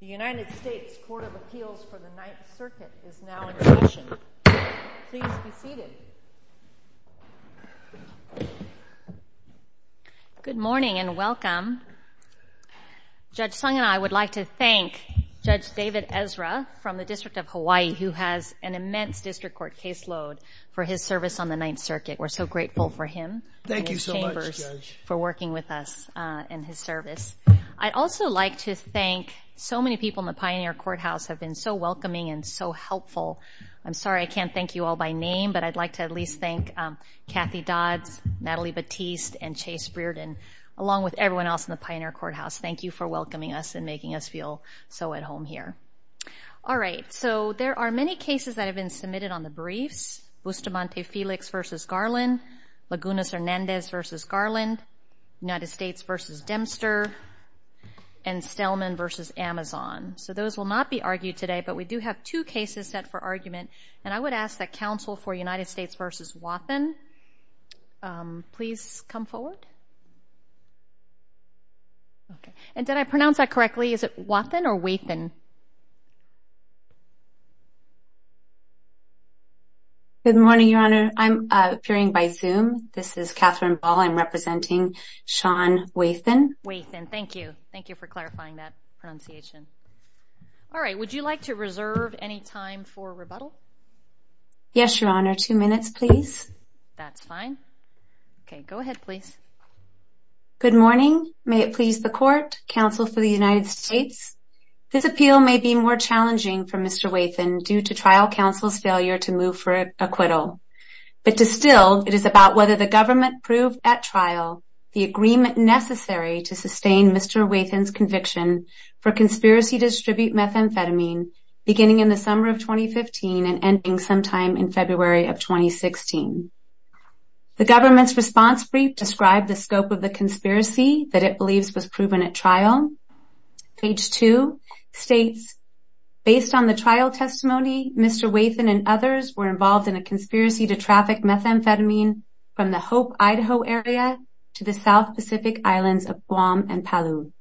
The United States Court of Appeals for the Ninth Circuit is now in session. Please be seated. Good morning and welcome. Judge Sung and I would like to thank Judge David Ezra from the District of Hawaii who has an immense district court caseload for his service on the Ninth Circuit. We're so grateful for him and his chambers for working with us in his service. I'd also like to thank so many people in the Pioneer Courthouse who have been so welcoming and so helpful. I'm sorry I can't thank you all by name, but I'd like to at least thank Kathy Dodds, Natalie Batiste, and Chase Brearden, along with everyone else in the Pioneer Courthouse. Thank you for welcoming us and making us feel so at home here. All right, so there are many cases that have been submitted on the briefs. Bustamante Felix v. Garland, Lagunas Hernandez v. Garland, United States v. Dempster, and Stellman v. Amazon. So those will not be argued today, but we do have two cases set for argument, and I would ask that counsel for United States v. Wathen please come forward. Okay, and did I pronounce that correctly? Is it Wathen or Weathen? Good morning, Your Honor. I'm appearing by Zoom. This is Katherine Ball. I'm representing Sean Wathen. Wathen, thank you. Thank you for clarifying that pronunciation. All right, would you like to reserve any time for rebuttal? Yes, Your Honor. Two minutes, please. That's fine. Okay, go ahead, please. Good morning. May it please the Court, counsel for the United States. This appeal may be more challenging for Mr. Wathen due to trial counsel's failure to move for acquittal, but still it is about whether the government proved at trial the agreement necessary to sustain Mr. Wathen's conviction for conspiracy to distribute methamphetamine beginning in the summer of 2015 and ending sometime in February of 2016. The government's response brief described the scope of the conspiracy that it believes was proven at trial. Page 2 states, Based on the trial testimony, Mr. Wathen and others were involved in a conspiracy to traffic methamphetamine from the Hope, Idaho area to the South Pacific islands of Guam and Palau.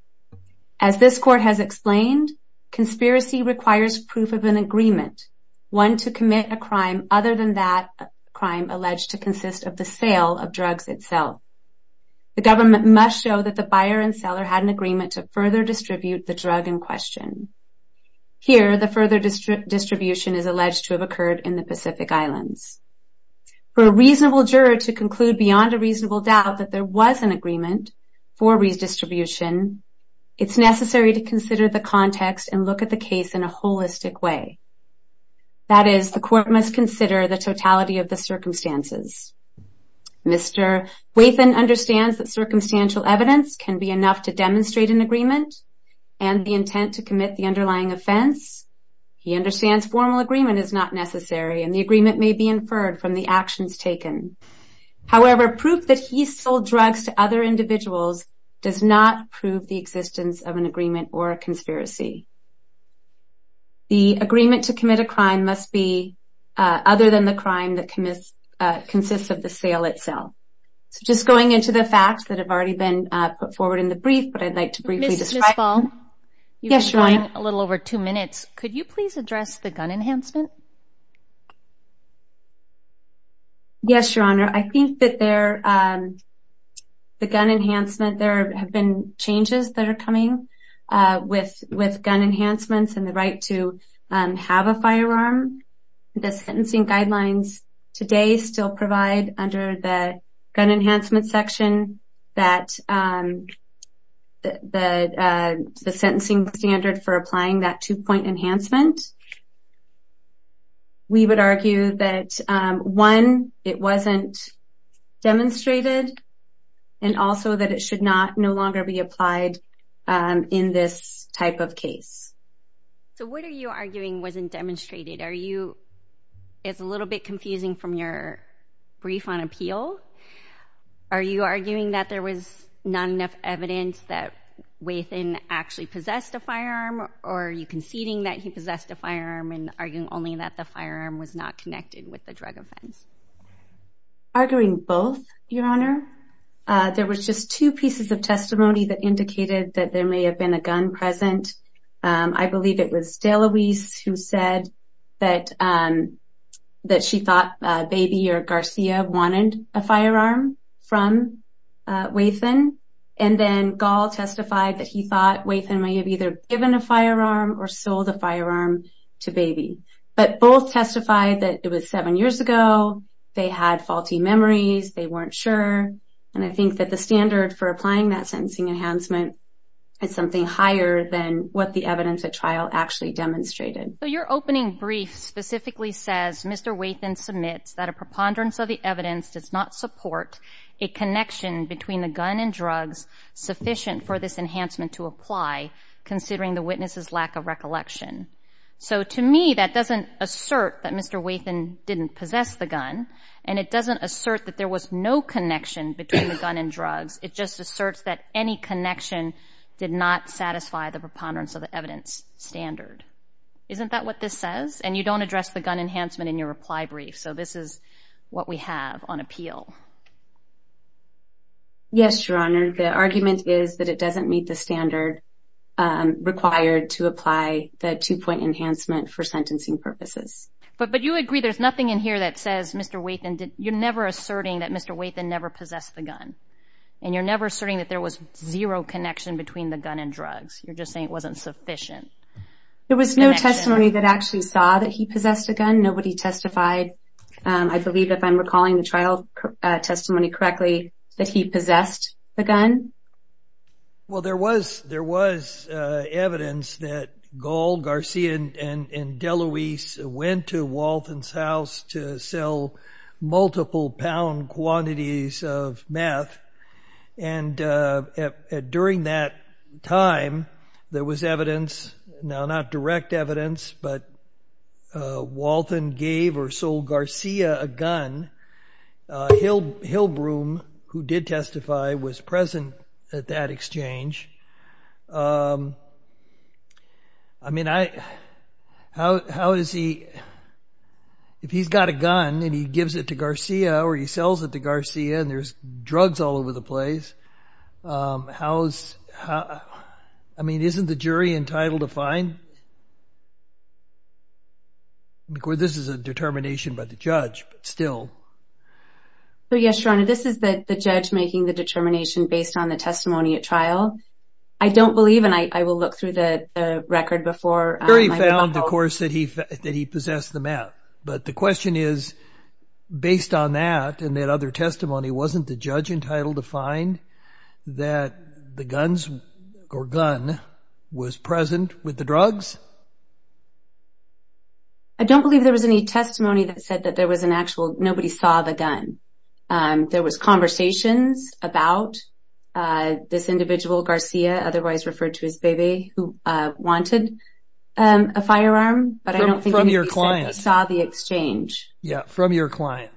As this Court has explained, conspiracy requires proof of an agreement, one to commit a crime other than that crime alleged to consist of the sale of drugs itself. The government must show that the buyer and seller had an agreement to further distribute the drug in question. Here, the further distribution is alleged to have occurred in the Pacific islands. For a reasonable juror to conclude beyond a reasonable doubt that there was an agreement for redistribution, it's necessary to consider the context and look at the case in a holistic way. That is, the Court must consider the totality of the circumstances. Mr. Wathen understands that circumstantial evidence can be enough to demonstrate an agreement and the intent to commit the underlying offense. He understands formal agreement is not necessary and the agreement may be inferred from the actions taken. However, proof that he sold drugs to other individuals does not prove the existence of an agreement or a conspiracy. The agreement to commit a crime must be other than the crime that consists of the sale itself. Just going into the facts that have already been put forward in the brief, but I'd like to briefly describe them. Ms. Misball, you've been gone a little over two minutes. Could you please address the gun enhancement? Yes, Your Honor. I think that the gun enhancement, there have been changes that are coming with gun enhancements and the right to have a firearm. The sentencing guidelines today still provide under the gun enhancement section that the sentencing standard for applying that two-point enhancement. We would argue that one, it wasn't demonstrated and also that it should no longer be applied in this type of case. So what are you arguing wasn't demonstrated? Are you, it's a little bit confusing from your brief on appeal. Are you arguing that there was not enough evidence that Wathan actually possessed a firearm or are you conceding that he possessed a firearm and arguing only that the firearm was not connected with the drug offense? Arguing both, Your Honor. There was just two pieces of testimony that indicated that there may have been a gun present. I believe it was DeLuise who said that she thought Baby or Garcia wanted a firearm from Wathan. And then Gall testified that he thought Wathan may have either given a firearm or sold a firearm to Baby. But both testified that it was seven years ago. They had faulty memories. They weren't sure. And I think that the standard for applying that sentencing enhancement is something higher than what the evidence at trial actually demonstrated. So your opening brief specifically says, Mr. Wathan submits that a preponderance of the evidence does not support a connection between the gun and drugs sufficient for this enhancement to apply considering the witness's lack of recollection. So to me that doesn't assert that Mr. Wathan didn't possess the gun between the gun and drugs. It just asserts that any connection did not satisfy the preponderance of the evidence standard. Isn't that what this says? And you don't address the gun enhancement in your reply brief. So this is what we have on appeal. Yes, Your Honor. The argument is that it doesn't meet the standard required to apply the two-point enhancement for sentencing purposes. But you agree there's nothing in here that says Mr. Wathan did... You're never asserting that Mr. Wathan never possessed the gun. And you're never asserting that there was zero connection between the gun and drugs. You're just saying it wasn't sufficient. There was no testimony that actually saw that he possessed the gun. Nobody testified. I believe if I'm recalling the trial testimony correctly that he possessed the gun. Well, there was evidence that Gold, Garcia, and DeLuise went to Wathan's house to sell multiple pound quantities of meth. And during that time, there was evidence, now not direct evidence, but Wathan gave or sold Garcia a gun. Hillbroom, who did testify, was present at that exchange. I mean, how is he... If he's got a gun and he gives it to Garcia or he sells it to Garcia and there's drugs all over the place, I mean, isn't the jury entitled to fine? Of course, this is a determination by the judge, but still. Yes, Your Honor, this is the judge making the determination based on the testimony at trial. I don't believe, and I will look through the record before... The jury found, of course, that he possessed the meth. But the question is, based on that and that other testimony, wasn't the judge entitled to fine that the guns or gun was present with the drugs? I don't believe there was any testimony that said that there was an actual... Nobody saw the gun. There was conversations about this individual, Garcia, otherwise referred to as Bebe, who wanted a firearm, but I don't think... From your client. He saw the exchange. Yes, from your client.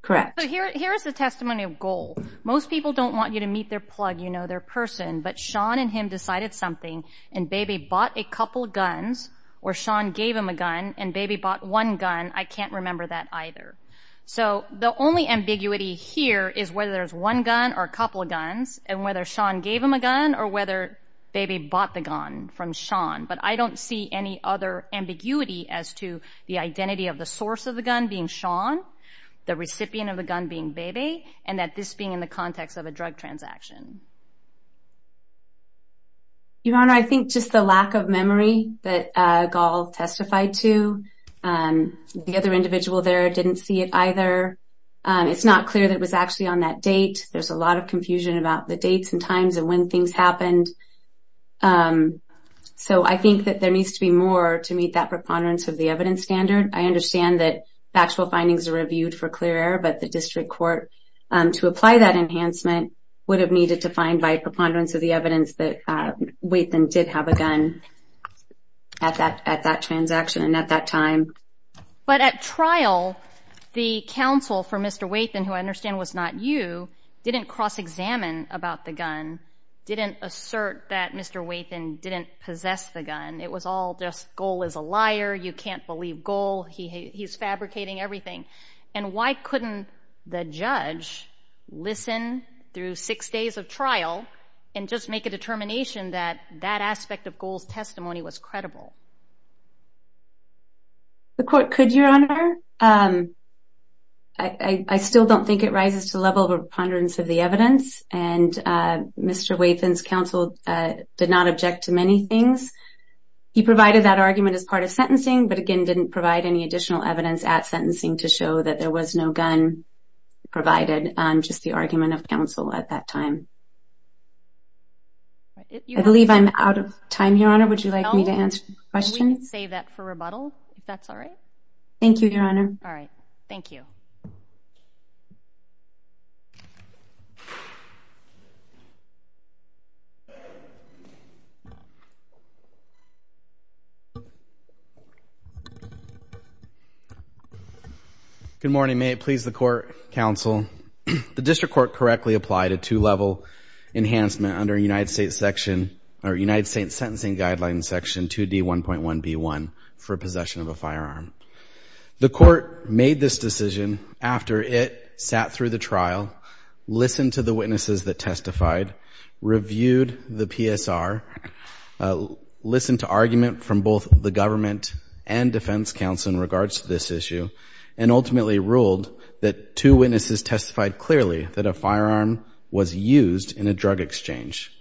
Correct. Here is the testimony of goal. Most people don't want you to meet their plug, you know, their person, but Sean and him decided something and Bebe bought a couple guns or Sean gave him a gun and Bebe bought one gun. I can't remember that either. So the only ambiguity here is whether there's one gun or a couple of guns and whether Sean gave him a gun or whether Bebe bought the gun from Sean. But I don't see any other ambiguity as to the identity of the source of the gun being Sean, the recipient of the gun being Bebe, and that this being in the context of a drug transaction. Your Honor, I think just the lack of memory that goal testified to and the other individual there didn't see it either. It's not clear that it was actually on that date. There's a lot of confusion about the dates and times and when things happened. So I think that there needs to be more to meet that preponderance of the evidence standard. I understand that factual findings are reviewed for clear error, but the district court, to apply that enhancement, would have needed to find by preponderance of the evidence that Weython did have a gun at that transaction and at that time. But at trial, the counsel for Mr. Weython, who I understand was not you, didn't cross-examine about the gun, didn't assert that Mr. Weython didn't possess the gun. It was all just, goal is a liar, you can't believe goal, he's fabricating everything. And why couldn't the judge listen through six days of trial and just make a determination that that aspect of goal's testimony was credible? The court could, Your Honor. I still don't think it rises to the level of a preponderance of the evidence, and Mr. Weython's counsel did not object to many things. He provided that argument as part of sentencing, but again didn't provide any additional evidence at sentencing to show that there was no gun provided, just the argument of counsel at that time. I believe I'm out of time, Your Honor, would you like me to answer questions? No, we can save that for rebuttal, if that's all right. Thank you, Your Honor. All right, thank you. Thank you. Good morning, may it please the court, counsel. The district court correctly applied a two-level enhancement under United States section, or United States sentencing guideline section 2D1.1b1 for possession of a firearm. The court made this decision after it sat through the trial, listened to the witnesses that testified, reviewed the PSR, listened to argument from both the government and defense counsel in regards to this issue, and ultimately ruled that two witnesses testified clearly that a firearm was used in a drug exchange.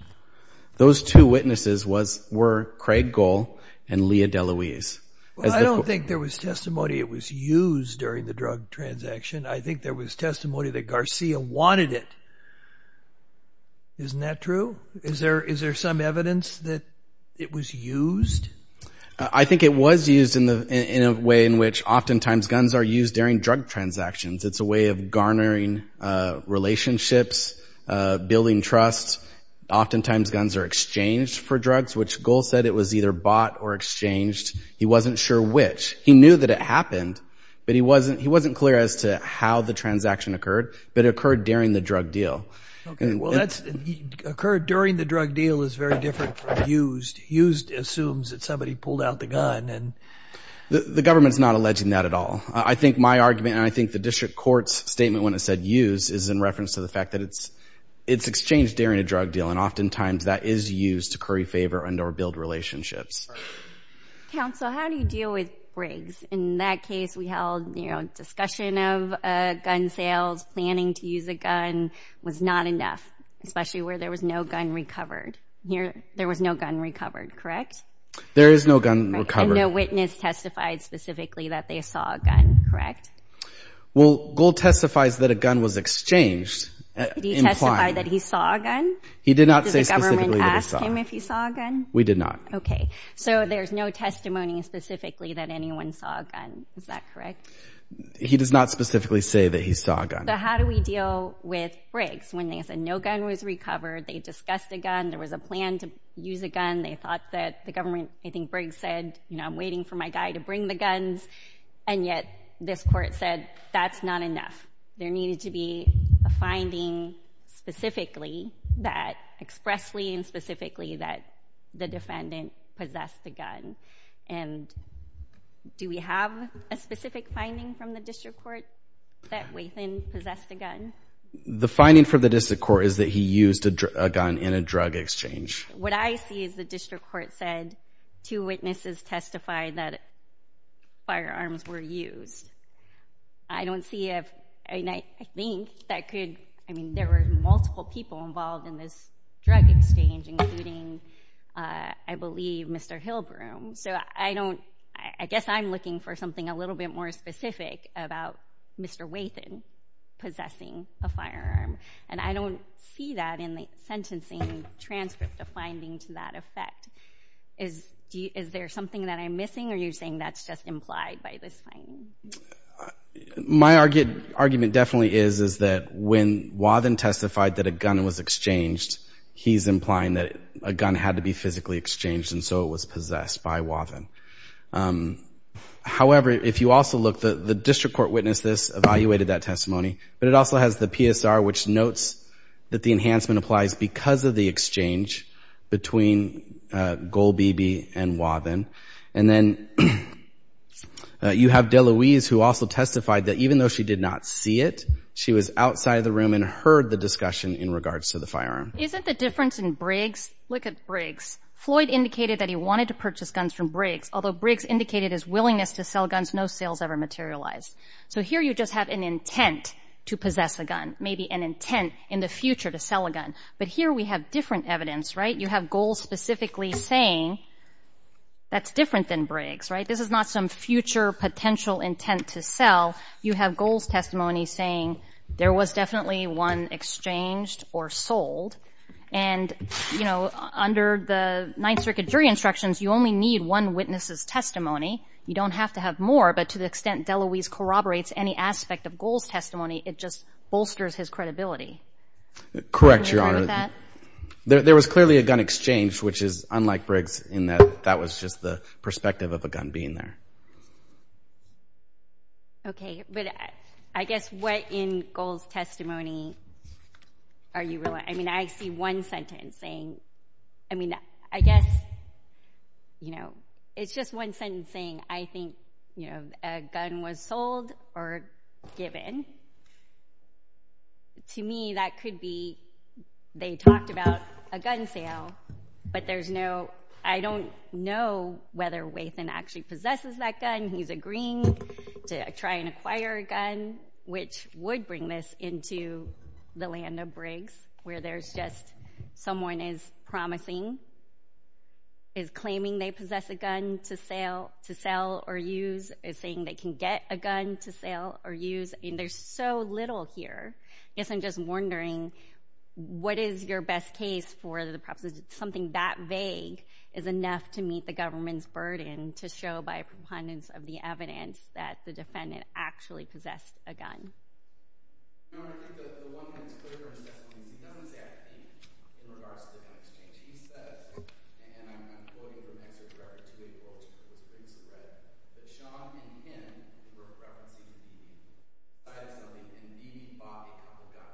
Those two witnesses were Craig Gohl and Leah DeLuise. Well, I don't think there was testimony it was used during the drug transaction. I think there was testimony that Garcia wanted it. Isn't that true? Is there some evidence that it was used? I think it was used in a way in which oftentimes guns are used during drug transactions. It's a way of garnering relationships, building trust. Oftentimes guns are exchanged for drugs, which Gohl said it was either bought or exchanged. He wasn't sure which. He knew that it happened, but he wasn't clear as to how the transaction occurred, but it occurred during the drug deal. Okay, well, that's occurred during the drug deal is very different from used. Used assumes that somebody pulled out the gun. The government's not alleging that at all. I think my argument, and I think the district court's statement when it said used, is in reference to the fact that it's exchanged during a drug deal, and oftentimes that is used to curry favor and or build relationships. Counsel, how do you deal with rigs? In that case, we held discussion of gun sales, planning to use a gun was not enough, especially where there was no gun recovered. There was no gun recovered, correct? There is no gun recovered. And no witness testified specifically that they saw a gun, correct? Well, Gohl testifies that a gun was exchanged. Did he testify that he saw a gun? He did not say specifically that he saw a gun. Did the government ask him if he saw a gun? We did not. Okay, so there's no testimony specifically that anyone saw a gun. Is that correct? He does not specifically say that he saw a gun. So how do we deal with rigs when they said no gun was recovered, they discussed a gun, there was a plan to use a gun, they thought that the government, I think Briggs said, you know, I'm waiting for my guy to bring the guns, and yet this court said that's not enough. There needed to be a finding specifically that expressly and specifically that the defendant possessed a gun. And do we have a specific finding from the district court that Wayson possessed a gun? The finding from the district court is that he used a gun in a drug exchange. What I see is the district court said two witnesses testified that firearms were used. I don't see if, I mean, I think that could, I mean, there were multiple people involved in this drug exchange, including, I believe, Mr. Hillbroom. So I don't, I guess I'm looking for something a little bit more specific about Mr. Wayson possessing a firearm, and I don't see that in the sentencing transcript, a finding to that effect. Is there something that I'm missing, or are you saying that's just implied by this finding? My argument definitely is that when Wathen testified that a gun was exchanged, he's implying that a gun had to be physically exchanged, and so it was possessed by Wathen. However, if you also look, the district court witnessed this, evaluated that testimony, but it also has the PSR, which notes that the enhancement applies because of the exchange between Golbebe and Wathen. And then you have DeLuise, who also testified that even though she did not see it, she was outside of the room and heard the discussion in regards to the firearm. Isn't the difference in Briggs? Look at Briggs. Floyd indicated that he wanted to purchase guns from Briggs, although Briggs indicated his willingness to sell guns, no sales ever materialized. So here you just have an intent to possess a gun, maybe an intent in the future to sell a gun. But here we have different evidence, right? You have Golbebe specifically saying that's different than Briggs, right? This is not some future potential intent to sell. You have Golbebe's testimony saying there was definitely one exchanged or sold. And, you know, under the Ninth Circuit jury instructions, you only need one witness's testimony. You don't have to have more, but to the extent DeLuise corroborates any aspect of Golbebe's testimony, it just bolsters his credibility. Correct, Your Honor. There was clearly a gun exchange, which is unlike Briggs, in that that was just the perspective of a gun being there. Okay, but I guess what in Golbebe's testimony are you relying on? I mean, I see one sentence saying, I mean, I guess, you know, it's just one sentence saying, I think, you know, a gun was sold or given. To me, that could be they talked about a gun sale, but there's no, I don't know whether Wathan actually possesses that gun. He's agreeing to try and acquire a gun, which would bring this into the land of Briggs, where there's just someone is promising, is claiming they possess a gun to sell or use, is saying they can get a gun to sell or use, and there's so little here. I guess I'm just wondering, what is your best case for perhaps something that vague is enough to meet the government's burden to show by a preponderance of the evidence that the defendant actually possessed a gun? Your Honor, I think the woman in this courtroom has definitely known exactly in regards to the gun exchange. She says, and I'm quoting from an excerpt in regards to a quote that Briggs read, that Sean and Ken were referencing to each other as somebody who indeed bought a couple guns,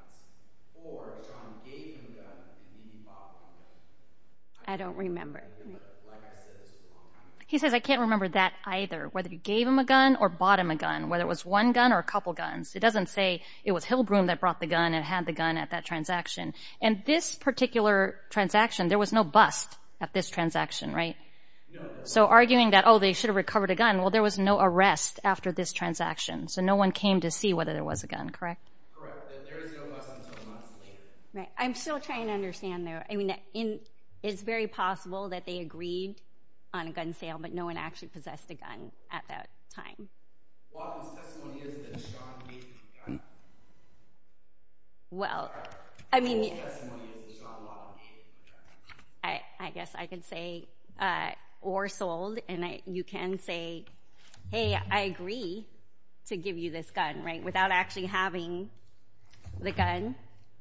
or John gave him a gun and he bought one gun. I don't remember. Like I said, it's a long time ago. He says, I can't remember that either, whether he gave him a gun or bought him a gun, whether it was one gun or a couple guns. It doesn't say it was Hillbroom that brought the gun and had the gun at that transaction. And this particular transaction, there was no bust at this transaction, right? So arguing that, oh, they should have recovered a gun, well, there was no arrest after this transaction, so no one came to see whether there was a gun, correct? Correct. There is no bust until months later. Right. I'm still trying to understand there. I mean, it's very possible that they agreed on a gun sale, but no one actually possessed a gun at that time. Well, his testimony is that Sean gave him the gun. Well, I mean... I guess I can say, or sold, and you can say, hey, I agree to give you this gun, right, without actually having the gun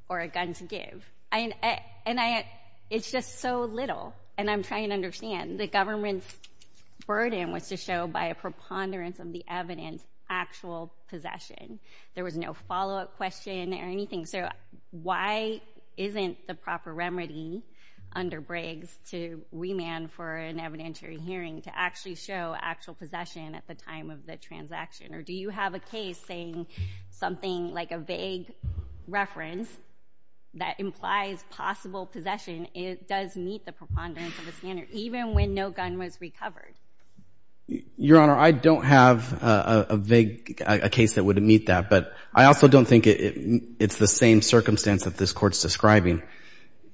or a gun to give. And it's just so little, and I'm trying to understand. The government's burden was to show, by a preponderance of the evidence, actual possession. There was no follow-up question or anything. So why isn't the proper remedy under Briggs to remand for an evidentiary hearing to actually show actual possession at the time of the transaction? Or do you have a case saying something like a vague reference that implies possible possession does meet the preponderance of the standard, even when no gun was recovered? Your Honor, I don't have a vague case that would meet that, but I also don't think it's the same circumstance that this Court's describing.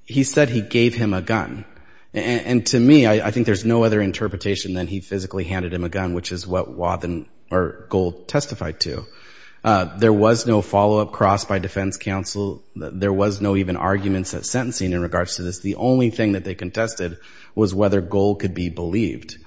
He said he gave him a gun. And to me, I think there's no other interpretation than he physically handed him a gun, which is what Gould testified to. There was no follow-up cross by defense counsel. There was no even arguments at sentencing in regards to this. The only thing that they contested was whether Gould could be believed.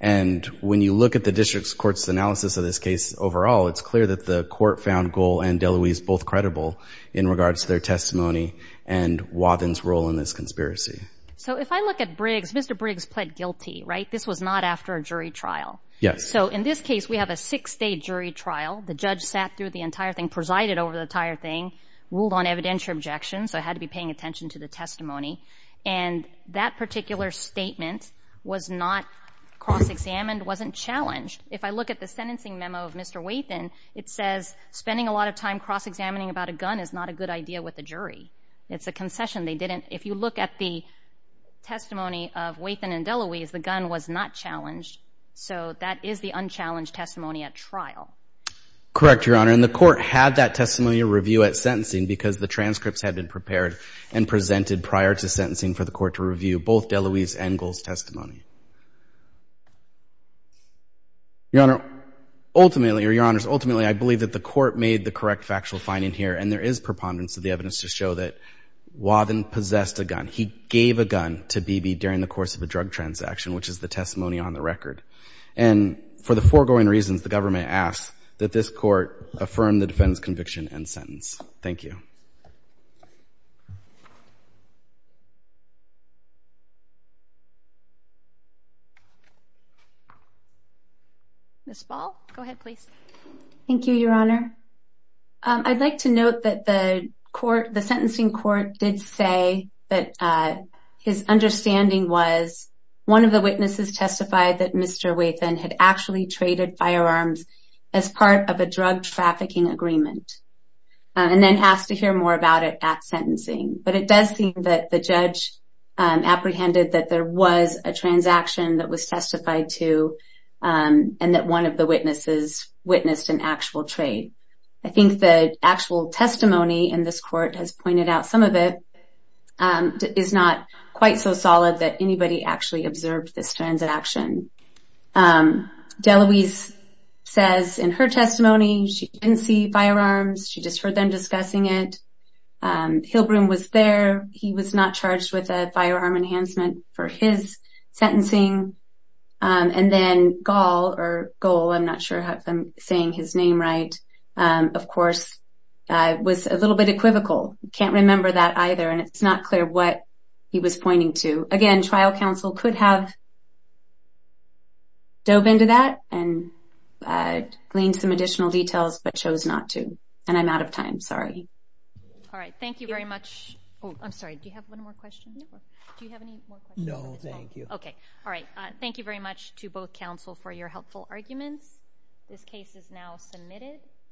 And when you look at the district court's analysis of this case overall, it's clear that the Court found Gould and DeLuise both credible in regards to their testimony and Wathen's role in this conspiracy. So if I look at Briggs, Mr. Briggs pled guilty, right? This was not after a jury trial. Yes. So in this case, we have a six-day jury trial. The judge sat through the entire thing, presided over the entire thing, ruled on evidentiary objections. I had to be paying attention to the testimony. And that particular statement was not cross-examined, wasn't challenged. If I look at the sentencing memo of Mr. Wathen, it says spending a lot of time cross-examining about a gun is not a good idea with a jury. It's a concession. They didn't... If you look at the testimony of Wathen and DeLuise, the gun was not challenged. So that is the unchallenged testimony at trial. Correct, Your Honor. And the Court had that testimony review at sentencing because the transcripts had been prepared and presented prior to sentencing for the Court to review both DeLuise and Gould's testimony. Your Honor, ultimately, or Your Honors, ultimately, I believe that the Court made the correct factual finding here, and there is preponderance of the evidence to show that Wathen possessed a gun. He gave a gun to Beebe during the course of a drug transaction, which is the testimony on the record. And for the foregoing reasons, the government asks that this Court affirm the defendant's conviction and sentence. Thank you. Ms. Ball, go ahead, please. Thank you, Your Honor. I'd like to note that the court, the sentencing court, did say that his understanding was one of the witnesses testified that Mr. Wathen had actually traded firearms as part of a drug trafficking agreement and then asked to hear more about it at sentencing. But it does seem that the judge apprehended that there was a transaction that was testified to and that one of the witnesses witnessed an actual trade. I think the actual testimony in this court has pointed out some of it is not quite so solid that anybody actually observed this transaction. DeLuise says in her testimony she didn't see firearms. She just heard them discussing it. Hilbroom was there. He was not charged with a firearm enhancement for his sentencing. And then Gall, or Goal, I'm not sure if I'm saying his name right, of course, was a little bit equivocal. I can't remember that either, and it's not clear what he was pointing to. Again, trial counsel could have dove into that and gleaned some additional details but chose not to. And I'm out of time, sorry. All right, thank you very much. I'm sorry, do you have one more question? No, thank you. All right, thank you very much to both counsel for your helpful arguments. This case is now submitted.